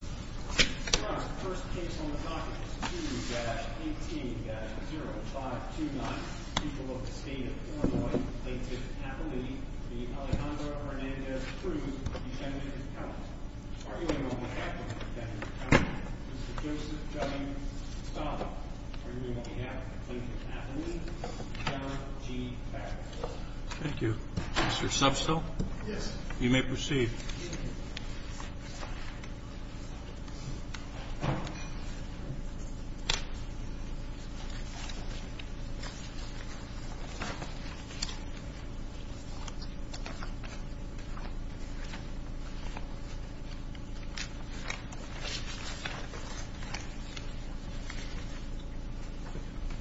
The first case on the docket is 2-18-0529, people of the state of Illinois, Latiff-Affily v. Alejandro Hernandez-Cruz, defendant's account. Arguing on behalf of the defendant's account, Mr. Joseph W. Stahl. Arguing on behalf of Latiff-Affily. Camera, G. Patrick Wilson. Thank you. Mr. Substill? Yes. You may proceed. Thank you.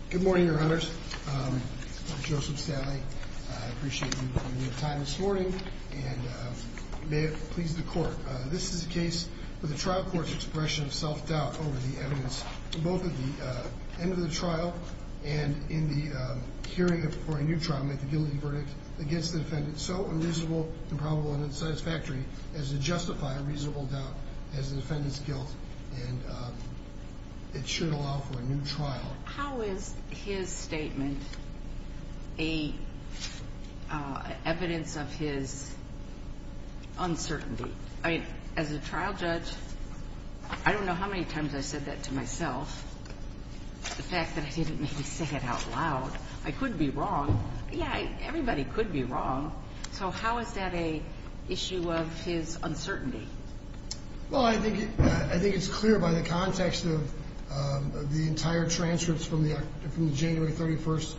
Good morning, your honors. I'm Joseph Stahle. I appreciate you giving me the time this morning, and may it please the court. This is a case where the trial court's expression of self-doubt over the evidence, both at the end of the trial and in the hearing for a new trial, make the guilty verdict against the defendant so unreasonable, improbable, and unsatisfactory as to justify a reasonable doubt as the defendant's guilt, and it should allow for a new trial. How is his statement evidence of his uncertainty? I mean, as a trial judge, I don't know how many times I've said that to myself, the fact that I didn't say it out loud. I could be wrong. Yeah, everybody could be wrong. So how is that an issue of his uncertainty? Well, I think it's clear by the context of the entire transcripts from the January 31st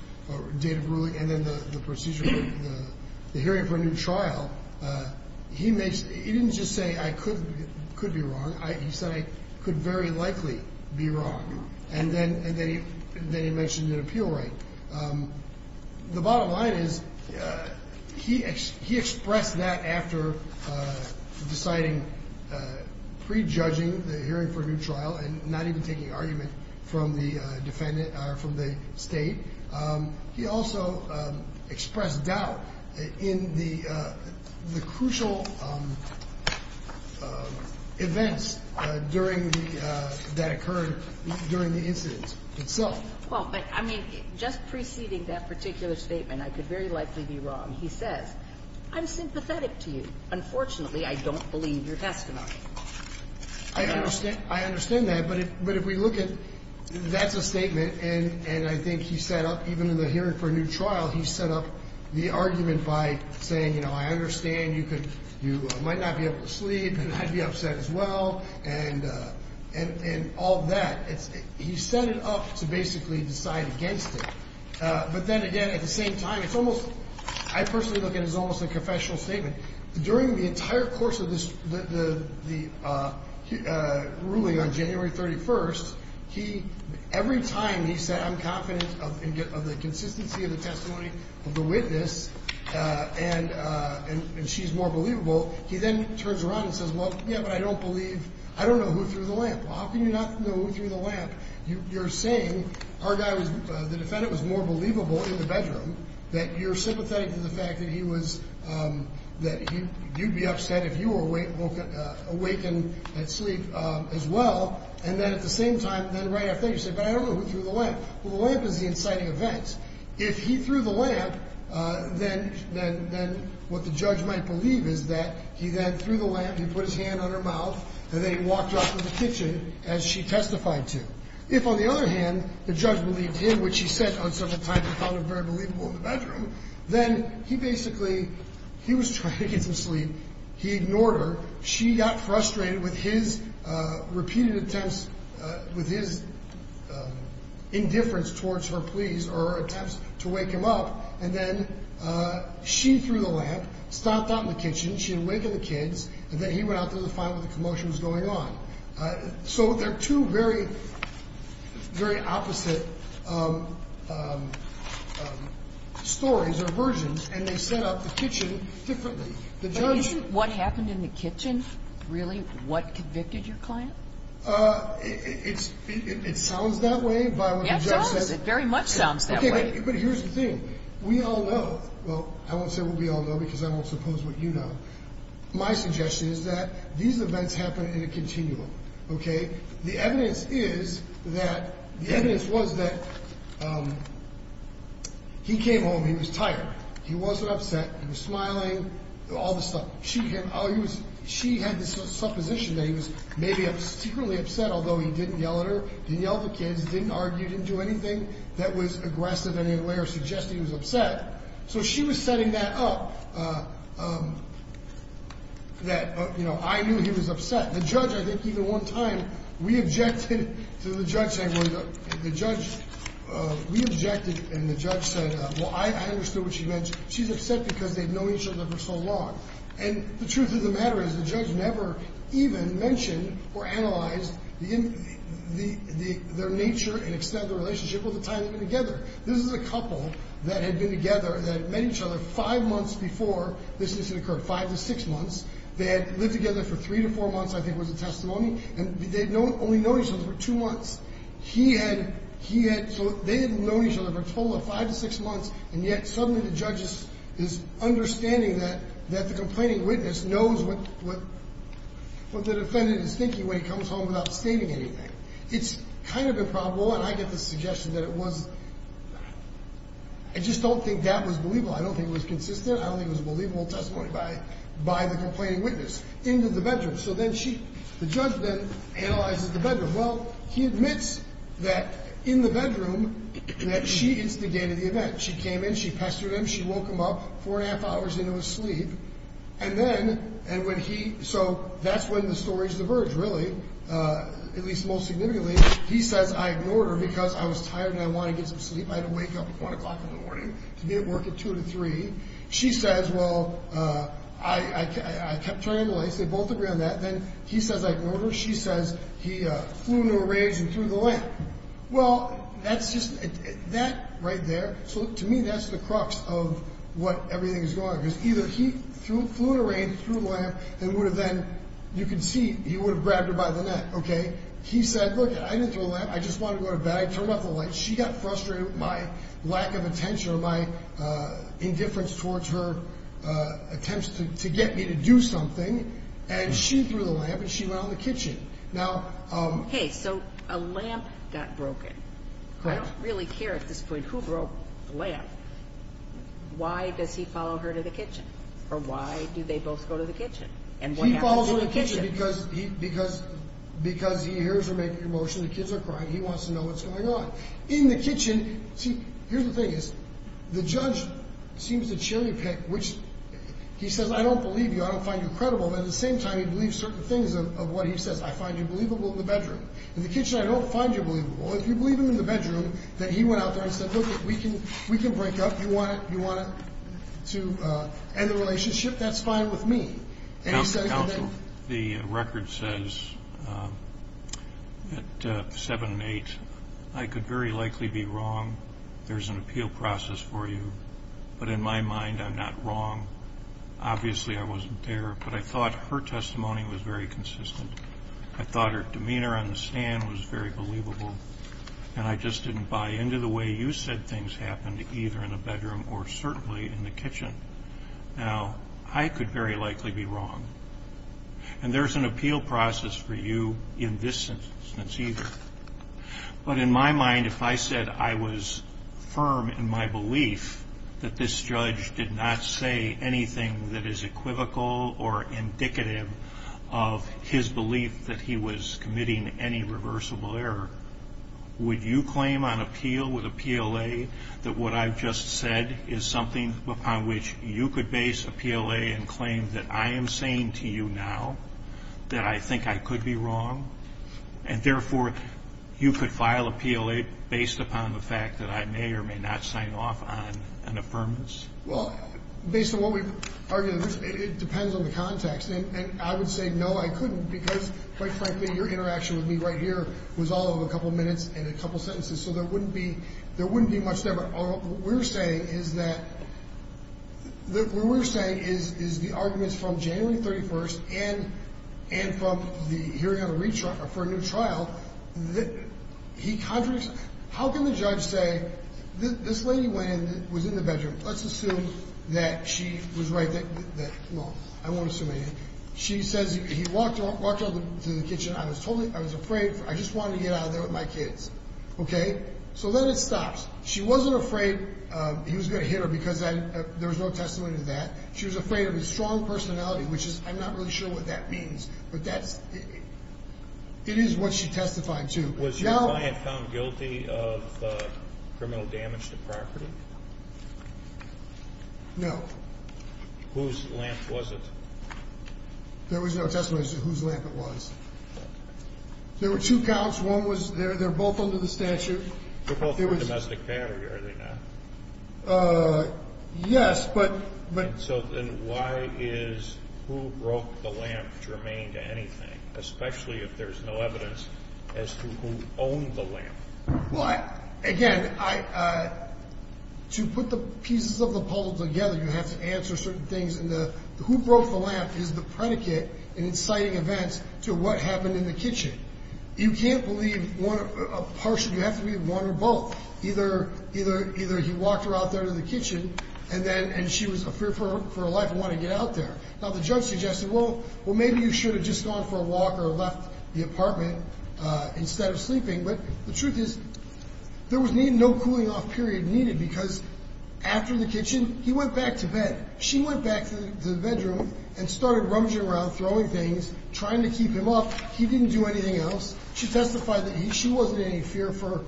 date of ruling and then the hearing for a new trial. He didn't just say I could be wrong. He said I could very likely be wrong. And then he mentioned an appeal right. The bottom line is he expressed that after deciding pre-judging the hearing for a new trial and not even taking argument from the defendant or from the state. He also expressed doubt in the crucial events that occurred during the incident itself. Well, I mean, just preceding that particular statement, I could very likely be wrong. He says I'm sympathetic to you. Unfortunately, I don't believe your testimony. I understand. I understand that. But if we look at that's a statement and I think he set up even in the hearing for a new trial, he set up the argument by saying, you know, I understand you could you might not be able to sleep and I'd be upset as well. And all that, he set it up to basically decide against it. But then again, at the same time, it's almost I personally look at is almost a confessional statement. During the entire course of this, the ruling on January 31st, he every time he said, I'm confident of the consistency of the testimony of the witness. And she's more believable. He then turns around and says, well, yeah, but I don't believe I don't know who threw the lamp. How can you not know who threw the lamp? You're saying our guy was the defendant was more believable in the bedroom that you're sympathetic to the fact that he was that you'd be upset if you were awake and awake and asleep as well. And then at the same time, then right after you say, but I don't know who threw the lamp. Well, the lamp is the inciting event. If he threw the lamp, then then then what the judge might believe is that he then threw the lamp. He put his hand on her mouth and they walked up to the kitchen as she testified to. If, on the other hand, the judge believed him, which he said on such a time, I found it very believable in the bedroom. Then he basically he was trying to get some sleep. He ignored her. She got frustrated with his repeated attempts with his indifference towards her pleas or attempts to wake him up. And then she threw the lamp, stopped out in the kitchen. She awakened the kids. And then he went out to find what the commotion was going on. So they're two very, very opposite stories or versions. And they set up the kitchen differently. What happened in the kitchen? Really, what convicted your client? It's it sounds that way, but it very much sounds that way. But here's the thing. We all know. Well, I won't say what we all know, because I won't suppose what you know. My suggestion is that these events happen in a continuum. OK. The evidence is that the evidence was that he came home. He was tired. He wasn't upset. He was smiling. All this stuff. She had this supposition that he was maybe secretly upset, although he didn't yell at her, didn't yell at the kids, didn't argue, didn't do anything that was aggressive in any way or suggest he was upset. So she was setting that up, that, you know, I knew he was upset. The judge, I think, even one time, we objected to the judge saying, well, the judge, we objected. And the judge said, well, I understood what she meant. She's upset because they've known each other for so long. And the truth of the matter is the judge never even mentioned or analyzed the their nature and extend the relationship with the time together. This is a couple that had been together, that made each other five months before this occurred, five to six months. They had lived together for three to four months. I think was a testimony. And they don't only know each other for two months. He had, he had, so they didn't know each other for a total of five to six months. And yet suddenly the judge is understanding that, that the complaining witness knows what, what, what the defendant is thinking when he comes home without stating anything. It's kind of improbable. And I get the suggestion that it was, I just don't think that was believable. I don't think it was consistent. I don't think it was a believable testimony by, by the complaining witness into the bedroom. So then she, the judge then analyzes the bedroom. Well, he admits that in the bedroom that she instigated the event. She came in, she pestered him, she woke him up four and a half hours into his sleep. And then, and when he, so that's when the stories diverge really, at least most significantly. He says, I ignored her because I was tired and I wanted to get some sleep. I had to wake up at one o'clock in the morning to be at work at two to three. She says, well, I, I, I kept turning on the lights. They both agree on that. Then he says, I ignored her. She says he flew into a rage and threw the lamp. Well, that's just that right there. So to me, that's the crux of what everything is going. Because either he flew into a rage, threw the lamp, and would have then, you can see, he would have grabbed her by the neck. Okay. He said, look, I didn't throw the lamp. I just wanted to go to bed. I turned off the lights. She got frustrated with my lack of attention or my indifference towards her attempts to get me to do something. And she threw the lamp and she went out in the kitchen. Now. Hey, so a lamp got broken. I don't really care at this point who broke the lamp. Why does he follow her to the kitchen? Or why do they both go to the kitchen? And what happens in the kitchen? He follows her to the kitchen because he, because, because he hears her making a motion. The kids are crying. He wants to know what's going on. In the kitchen. See, here's the thing is, the judge seems to cherry pick, which he says, I don't believe you. I don't find you credible. At the same time, he believes certain things of what he says. I find you believable in the bedroom. In the kitchen, I don't find you believable. If you believe him in the bedroom, that he went out there and said, look, we can, we can break up. You want it? You want it to end the relationship? That's fine with me. And he said. The record says. At seven and eight, I could very likely be wrong. There's an appeal process for you. But in my mind, I'm not wrong. Obviously, I wasn't there. But I thought her testimony was very consistent. I thought her demeanor on the stand was very believable. And I just didn't buy into the way you said things happened, either in the bedroom or certainly in the kitchen. Now, I could very likely be wrong. And there's an appeal process for you in this instance either. But in my mind, if I said I was firm in my belief that this judge did not say anything that is equivocal or indicative of his belief that he was committing any reversible error, would you claim on appeal with a PLA that what I've just said is something upon which you could base a PLA and claim that I am saying to you now that I think I could be wrong? And therefore, you could file a PLA based upon the fact that I may or may not sign off on an affirmance? Well, based on what we've argued, it depends on the context. And I would say, no, I couldn't because, quite frankly, your interaction with me right here was all of a couple minutes and a couple sentences. So there wouldn't be much there. What we're saying is the arguments from January 31st and from the hearing on a retrial for a new trial, he contradicts. How can the judge say, this lady went in and was in the bedroom. Let's assume that she was right. No, I won't assume anything. She says he walked into the kitchen. I was afraid. I just wanted to get out of there with my kids. Okay? So then it stops. She wasn't afraid he was going to hit her because there was no testimony to that. She was afraid of his strong personality, which is, I'm not really sure what that means. But that's, it is what she testified to. Was your client found guilty of criminal damage to property? No. Whose lamp was it? There was no testimony to whose lamp it was. There were two counts. One was, they're both under the statute. They're both for domestic battery, are they not? Yes, but. So then why is who broke the lamp germane to anything, especially if there's no evidence as to who owned the lamp? Well, again, to put the pieces of the puzzle together, you have to answer certain things. And the who broke the lamp is the predicate in inciting events to what happened in the kitchen. You can't believe one, partially, you have to believe one or both. Either he walked her out there to the kitchen and then she was afraid for her life and wanted to get out there. Now, the judge suggested, well, maybe you should have just gone for a walk or left the apartment instead of sleeping. But the truth is there was no cooling off period needed because after the kitchen, he went back to bed. She went back to the bedroom and started rummaging around, throwing things, trying to keep him up. He didn't do anything else. She testified that she wasn't in any fear from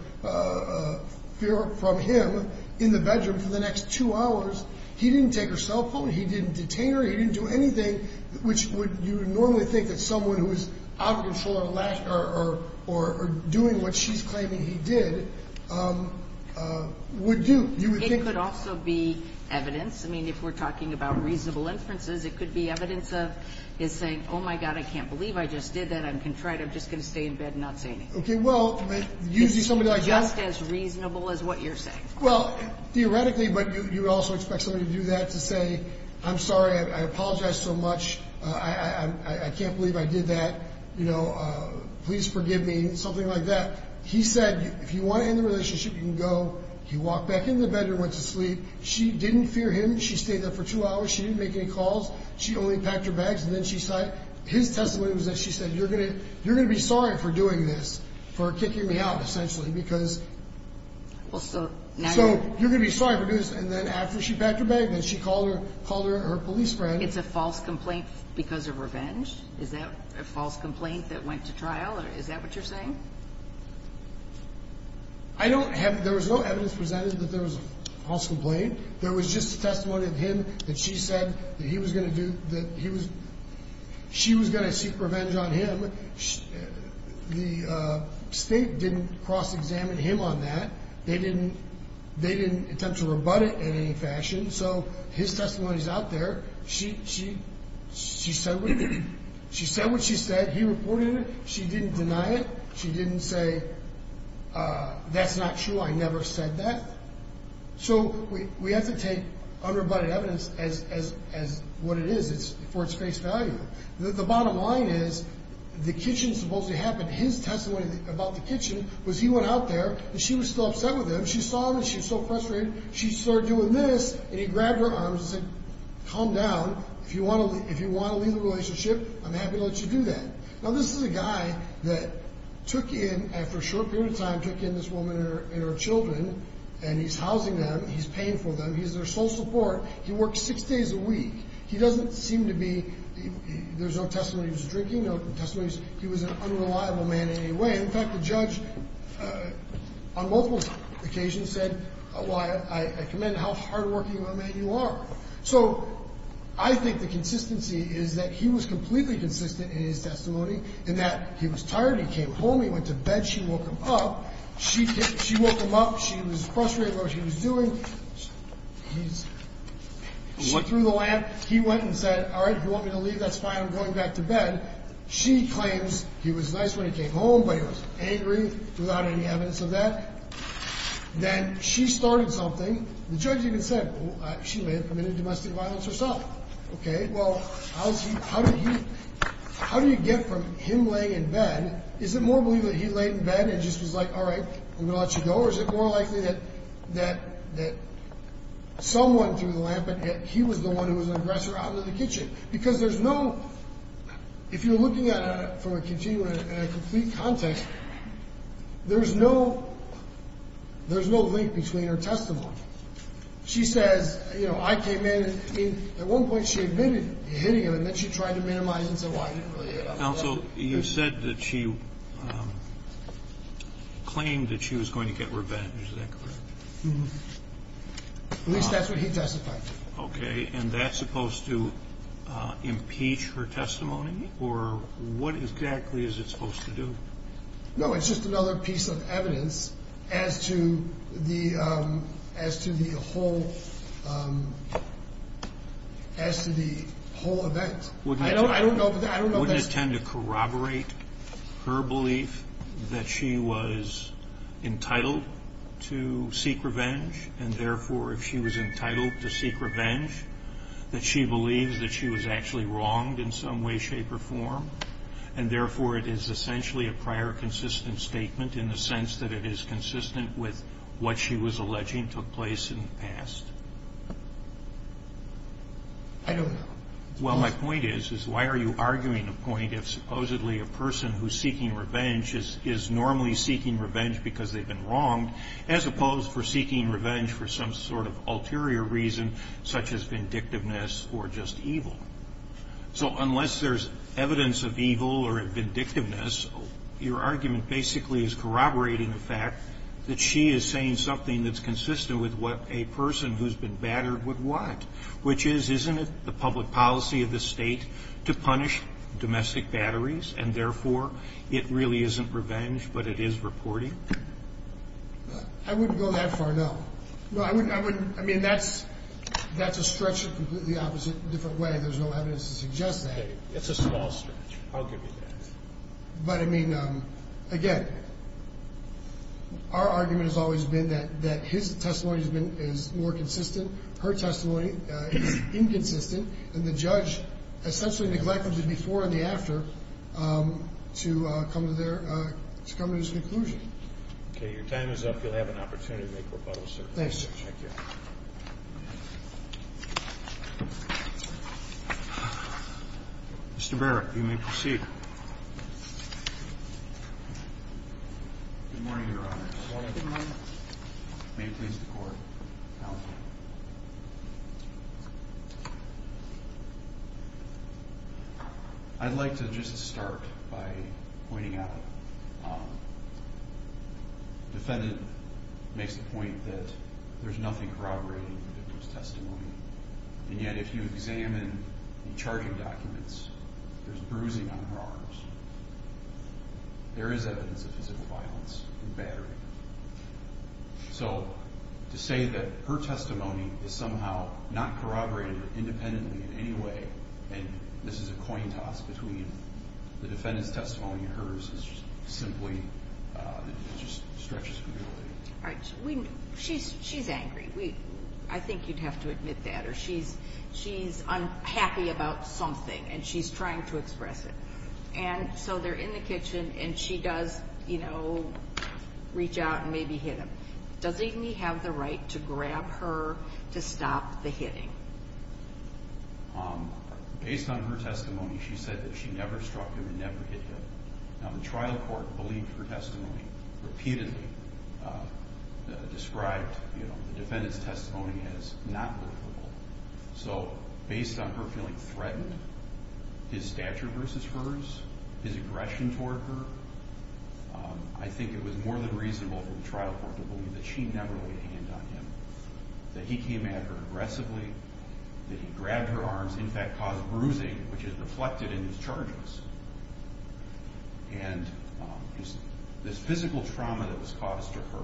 him in the bedroom for the next two hours. He didn't take her cell phone. He didn't detain her. He didn't do anything, which you would normally think that someone who is out of control or doing what she's claiming he did would do. It could also be evidence. I mean, if we're talking about reasonable inferences, it could be evidence of his saying, oh, my God, I can't believe I just did that. I'm contrite. I'm just going to stay in bed and not say anything. Okay, well, usually somebody like that. Just as reasonable as what you're saying. Well, theoretically, but you also expect somebody to do that, to say, I'm sorry, I apologize so much. I can't believe I did that. You know, please forgive me, something like that. He said, if you want to end the relationship, you can go. He walked back into the bedroom and went to sleep. She didn't fear him. She stayed there for two hours. She didn't make any calls. She only packed her bags. His testimony was that she said, you're going to be sorry for doing this, for kicking me out, essentially, because. So you're going to be sorry for doing this. And then after she packed her bag, then she called her police friend. It's a false complaint because of revenge? Is that a false complaint that went to trial? Is that what you're saying? I don't have. There was no evidence presented that there was a false complaint. There was just a testimony of him that she said that he was going to do, that he was, she was going to seek revenge on him. The state didn't cross-examine him on that. They didn't, they didn't attempt to rebut it in any fashion. So his testimony is out there. She, she, she said, she said what she said. He reported it. She didn't deny it. She didn't say, that's not true. I never said that. So we have to take unrebutted evidence as, as, as what it is. It's for its face value. The bottom line is, the kitchen supposedly happened. His testimony about the kitchen was he went out there and she was still upset with him. She saw him and she was so frustrated. She started doing this and he grabbed her arms and said, calm down. If you want to, if you want to leave the relationship, I'm happy to let you do that. Now this is a guy that took in, after a short period of time, took in this woman and her, and her children. And he's housing them. He's paying for them. He's their sole support. He works six days a week. He doesn't seem to be, there's no testimony he was drinking, no testimony he was, he was an unreliable man in any way. In fact, the judge on multiple occasions said, well, I, I commend how hardworking of a man you are. So I think the consistency is that he was completely consistent in his testimony in that he was tired. He came home. He went to bed. She woke him up. She, she woke him up. She was frustrated with what he was doing. He threw the lamp. He went and said, all right, you want me to leave? That's fine. I'm going back to bed. She claims he was nice when he came home, but he was angry without any evidence of that. Then she started something. The judge even said, well, she may have committed domestic violence herself. Okay. Well, how's he, how did he, how do you get from him laying in bed? Is it more believable that he laid in bed and just was like, all right, I'm going to let you go? Or is it more likely that, that, that someone threw the lamp and he was the one who was an aggressor out in the kitchen? Because there's no, if you're looking at it from a continuum and a complete context, there's no, there's no link between her testimony. She says, you know, I came in and at one point she admitted hitting him and then she tried to minimize it and said, well, I didn't really hit him. Counsel, you said that she claimed that she was going to get revenge. Is that correct? At least that's what he testified to. Okay. And that's supposed to impeach her testimony or what exactly is it supposed to do? No, it's just another piece of evidence as to the, as to the whole, as to the whole event. Wouldn't it tend to corroborate her belief that she was entitled to seek revenge? And therefore, if she was entitled to seek revenge, that she believes that she was actually wronged in some way, shape or form. And therefore, it is essentially a prior consistent statement in the sense that it is consistent with what she was alleging took place in the past. I don't know. Well, my point is, is why are you arguing a point if supposedly a person who's seeking revenge is normally seeking revenge because they've been wronged, as opposed for seeking revenge for some sort of ulterior reason such as vindictiveness or just evil? So unless there's evidence of evil or vindictiveness, your argument basically is corroborating the fact that she is saying something that's consistent with what a person who's been battered would want, which is, isn't it the public policy of the state to punish domestic batteries? And therefore, it really isn't revenge, but it is reporting? I wouldn't go that far, no. No, I wouldn't. I mean, that's, that's a stretch in a completely opposite, different way. There's no evidence to suggest that. It's a small stretch. I'll give you that. But, I mean, again, our argument has always been that his testimony has been, is more consistent. Her testimony is inconsistent. And the judge essentially neglected the before and the after to come to their, to come to this conclusion. Okay, your time is up. You'll have an opportunity to make rebuttal, sir. Thanks, Judge. Thank you. Mr. Barrett, you may proceed. Good morning, Your Honor. Good morning. May it please the Court. Counsel. I'd like to just start by pointing out. The defendant makes the point that there's nothing corroborating the victim's testimony. And yet, if you examine the charging documents, there's bruising on her arms. There is evidence of physical violence and battering. So, to say that her testimony is somehow not corroborated independently in any way, and this is a coin toss between the defendant's testimony and hers, is just simply, it just stretches too far. She's angry. I think you'd have to admit that. Or she's unhappy about something, and she's trying to express it. And so they're in the kitchen, and she does, you know, reach out and maybe hit him. Doesn't he have the right to grab her to stop the hitting? Based on her testimony, she said that she never struck him and never hit him. Now, the trial court believed her testimony repeatedly described the defendant's testimony as not likable. So, based on her feeling threatened, his stature versus hers, his aggression toward her, I think it was more than reasonable for the trial court to believe that she never laid a hand on him, that he came at her aggressively, that he grabbed her arms, in fact caused bruising, which is reflected in his charges. And this physical trauma that was caused to her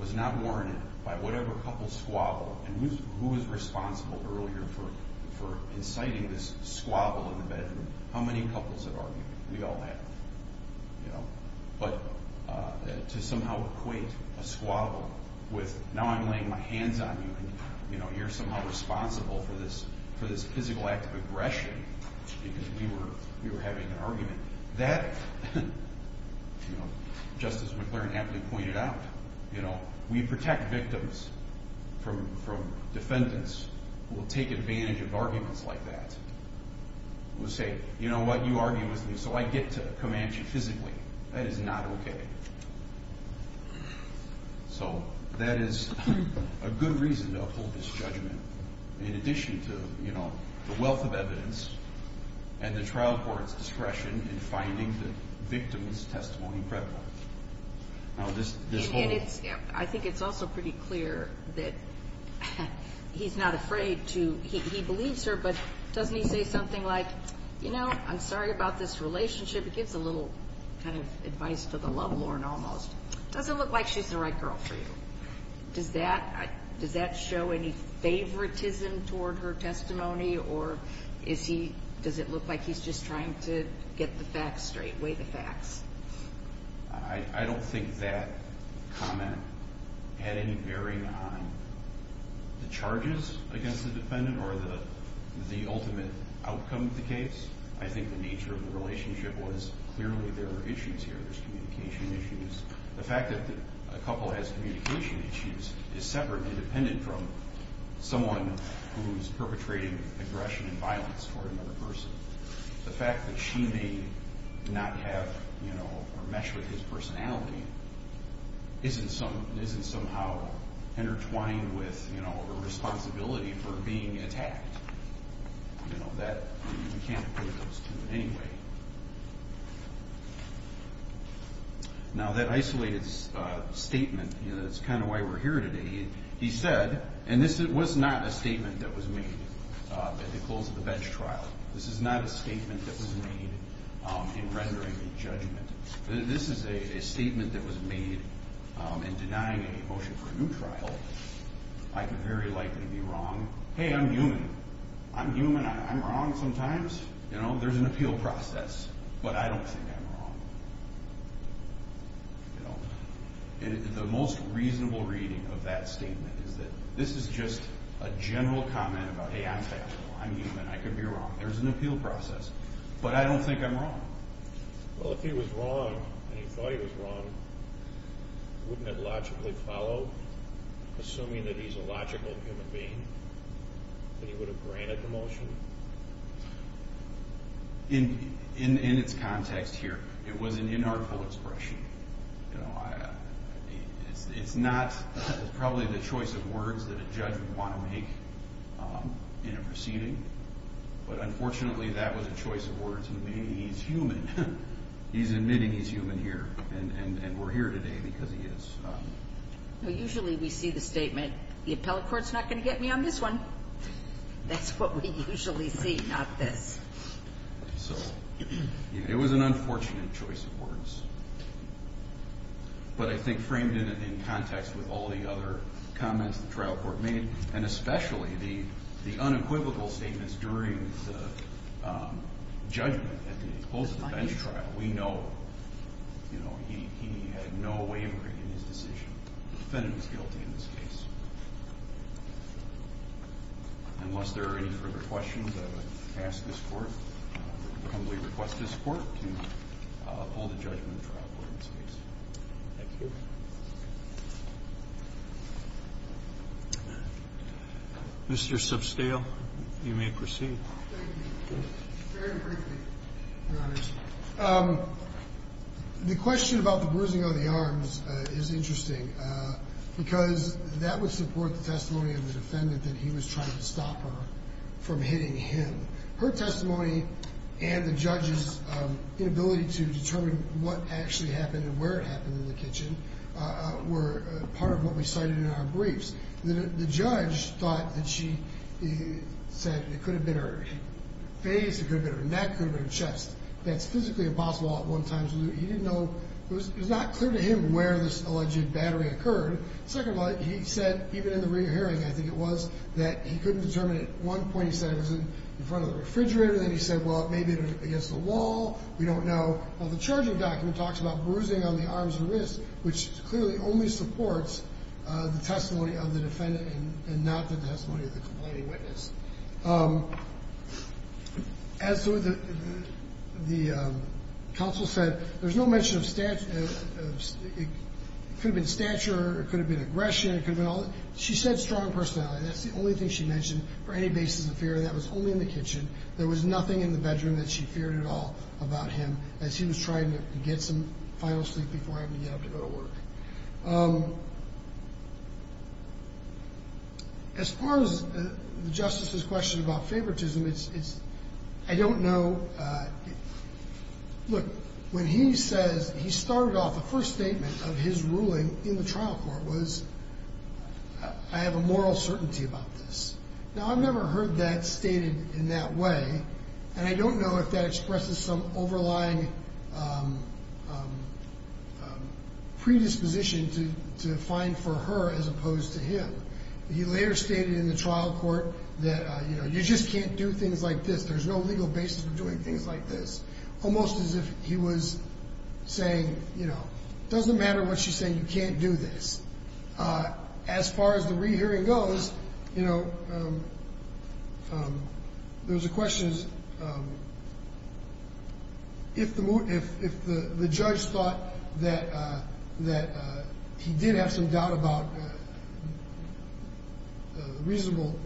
was not warranted by whatever couple squabbled. And who was responsible earlier for inciting this squabble in the bedroom? How many couples have argued? We all have. But to somehow equate a squabble with, now I'm laying my hands on you, and you're somehow responsible for this physical act of aggression because we were having an argument, that, just as McLaren happily pointed out, we protect victims from defendants who will take advantage of arguments like that. Who say, you know what, you argue with me, so I get to command you physically. That is not okay. So, that is a good reason to uphold this judgment in addition to, you know, the wealth of evidence and the trial court's discretion in finding the victim's testimony credible. I think it's also pretty clear that he's not afraid to, he believes her, but doesn't he say something like, you know, I'm sorry about this relationship, he gives a little kind of advice to the love lord almost. Does it look like she's the right girl for you? Does that show any favoritism toward her testimony or does it look like he's just trying to get the facts straight, weigh the facts? I don't think that comment had any bearing on the charges against the defendant or the ultimate outcome of the case. I think the nature of the relationship was clearly there were issues here, there's communication issues. The fact that a couple has communication issues is separate and independent from someone who's perpetrating aggression and violence toward another person. The fact that she may not have, you know, or mesh with his personality isn't somehow intertwined with, you know, her responsibility for being attacked. You know, that, you can't put those two in any way. Now, that isolated statement, you know, that's kind of why we're here today, he said, and this was not a statement that was made at the close of the bench trial. This is not a statement that was made in rendering a judgment. This is a statement that was made in denying a motion for a new trial. I could very likely be wrong. Hey, I'm human. I'm human, I'm wrong sometimes. You know, there's an appeal process, but I don't think I'm wrong. You know, the most reasonable reading of that statement is that this is just a general comment about, hey, I'm factual, I'm human, I could be wrong. There's an appeal process, but I don't think I'm wrong. Well, if he was wrong, and he thought he was wrong, wouldn't it logically follow, assuming that he's a logical human being, that he would have granted the motion? In its context here, it was an inartful expression. You know, it's not probably the choice of words that a judge would want to make in a proceeding, but unfortunately, that was a choice of words. Hey, he's human. He's admitting he's human here, and we're here today because he is. Well, usually we see the statement, the appellate court's not going to get me on this one. That's what we usually see, not this. So it was an unfortunate choice of words, but I think framed in context with all the other comments the trial court made, and especially the unequivocal statements during the judgment at the close of the bench trial. We know, you know, he had no wavering in his decision. The defendant was guilty in this case. Unless there are any further questions, I would ask this court, humbly request this court to hold a judgment trial court in this case. Thank you. Mr. Substale, you may proceed. Thank you. Very briefly, Your Honor. The question about the bruising on the arms is interesting because that would support the testimony of the defendant that he was trying to stop her from hitting him. Her testimony and the judge's inability to determine what actually happened and where it happened in the kitchen were part of what we cited in our briefs. The judge thought that she said it could have been her face, it could have been her neck, it could have been her chest. That's physically impossible at one time. He didn't know. It was not clear to him where this alleged battery occurred. Second of all, he said, even in the rear hearing, I think it was, that he couldn't determine it. At one point he said it was in front of the refrigerator. Then he said, well, it may have been against the wall. We don't know. The charging document talks about bruising on the arms and wrists, which clearly only supports the testimony of the defendant and not the testimony of the complaining witness. As the counsel said, there's no mention of stature. It could have been stature or it could have been aggression. She said strong personality. That's the only thing she mentioned for any basis of fear. That was only in the kitchen. There was nothing in the bedroom that she feared at all about him as he was trying to get some final sleep before having to get up to go to work. As far as the justice's question about favoritism, I don't know. Look, when he says he started off, the first statement of his ruling in the trial court was, I have a moral certainty about this. Now, I've never heard that stated in that way, and I don't know if that expresses some overlying predisposition to find for her as opposed to him. He later stated in the trial court that, you know, you just can't do things like this. There's no legal basis for doing things like this. Almost as if he was saying, you know, doesn't matter what she's saying, you can't do this. As far as the rehearing goes, you know, there's a question. If the judge thought that he did have some doubt about reasonable,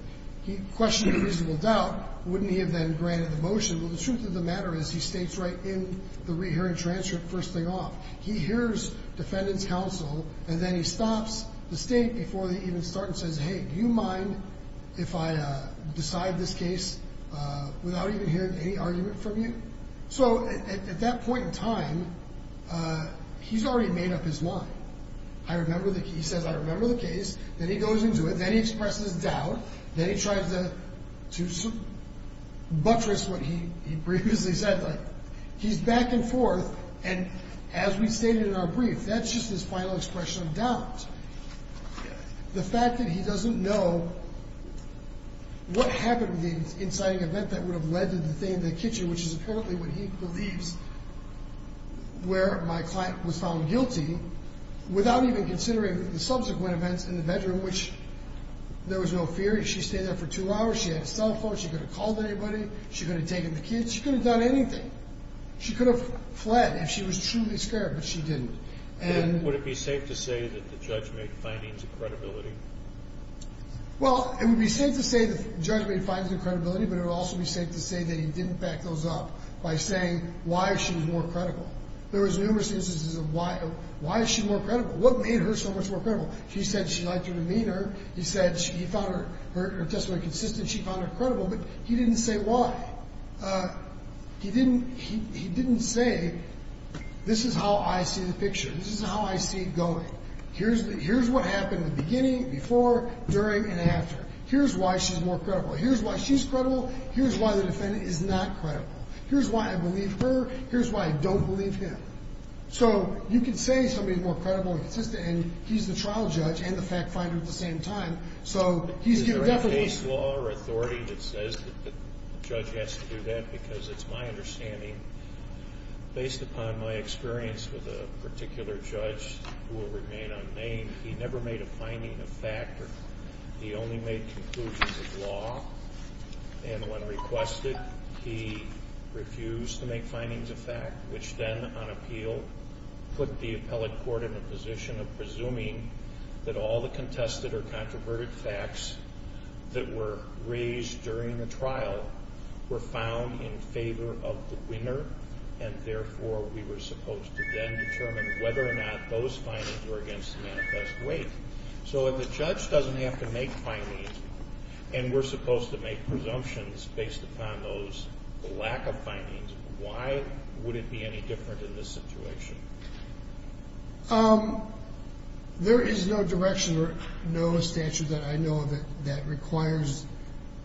he questioned reasonable doubt, wouldn't he have then granted the motion? Well, the truth of the matter is he states right in the rehearing transcript first thing off. He hears defendant's counsel, and then he stops the state before they even start and says, hey, do you mind if I decide this case without even hearing any argument from you? So at that point in time, he's already made up his mind. He says, I remember the case. Then he goes into it. Then he expresses doubt. Then he tries to buttress what he previously said. He's back and forth, and as we stated in our brief, that's just his final expression of doubt. The fact that he doesn't know what happened in the inciting event that would have led to the thing in the kitchen, which is apparently what he believes, where my client was found guilty, without even considering the subsequent events in the bedroom, which there was no fear. She stayed there for two hours. She had a cell phone. She couldn't have called anybody. She couldn't have taken the kids. She couldn't have done anything. She could have fled if she was truly scared, but she didn't. Would it be safe to say that the judge made findings of credibility? Well, it would be safe to say the judge made findings of credibility, but it would also be safe to say that he didn't back those up by saying why she was more credible. There was numerous instances of why is she more credible? What made her so much more credible? He said she lied to her demeanor. He said he found her testimony consistent. She found her credible, but he didn't say why. He didn't say this is how I see the picture. This is how I see it going. Here's what happened in the beginning, before, during, and after. Here's why she's more credible. Here's why she's credible. Here's why the defendant is not credible. Here's why I believe her. Here's why I don't believe him. So you can say somebody is more credible and consistent, and he's the trial judge and the fact finder at the same time, so he's given definition. There's no case law or authority that says that the judge has to do that because it's my understanding, based upon my experience with a particular judge who will remain unnamed, he never made a finding of fact or he only made conclusions of law. And when requested, he refused to make findings of fact, which then, on appeal, put the appellate court in a position of presuming that all the contested or controverted facts that were raised during the trial were found in favor of the winner, and therefore we were supposed to then determine whether or not those findings were against the manifest weight. So if the judge doesn't have to make findings and we're supposed to make presumptions based upon those lack of findings, why would it be any different in this situation? There is no direction or no statute that I know of that requires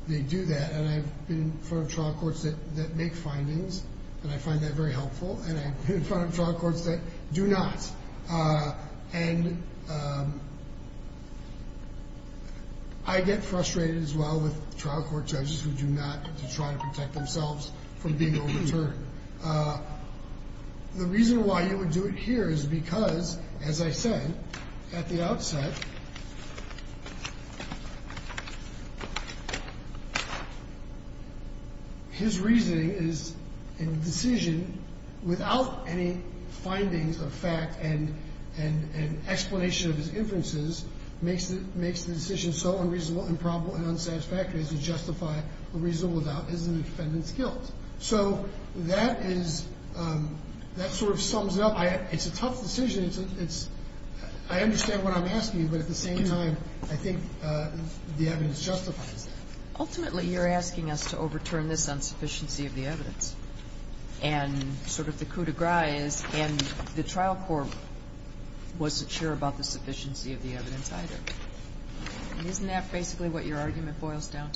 they do that, and I've been in front of trial courts that make findings, and I find that very helpful, and I've been in front of trial courts that do not. And I get frustrated as well with trial court judges who do not try to protect themselves from being overturned. The reason why you would do it here is because, as I said at the outset, his reasoning is a decision without any findings of fact and explanation of his inferences makes the decision so unreasonable and probable and unsatisfactory as to justify a reasonable doubt as the defendant's guilt. So that is – that sort of sums it up. It's a tough decision. It's – I understand what I'm asking, but at the same time, I think the evidence justifies that. Ultimately, you're asking us to overturn this on sufficiency of the evidence, and sort of the coup de grace is – and the trial court wasn't sure about the sufficiency of the evidence either. Isn't that basically what your argument boils down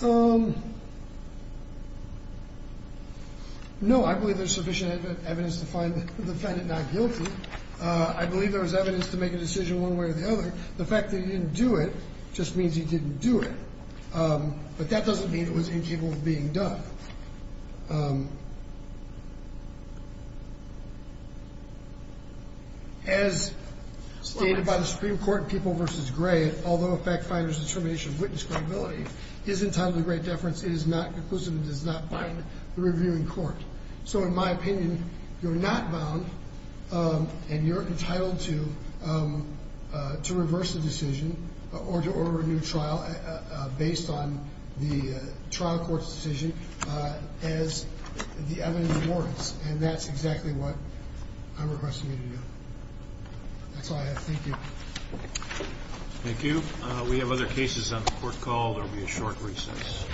to? No, I believe there's sufficient evidence to find the defendant not guilty. I believe there was evidence to make a decision one way or the other. The fact that he didn't do it just means he didn't do it, but that doesn't mean it was incapable of being done. As stated by the Supreme Court in People v. Gray, although a fact finder's determination of witness credibility is entitled to great deference, it is not conclusive and does not bind the reviewing court. So in my opinion, you're not bound and you're entitled to reverse the decision or to order a new trial based on the trial court's decision as the evidence warrants, and that's exactly what I'm requesting you to do. That's all I have. Thank you. Thank you. We have other cases on the court call. There will be a short recess.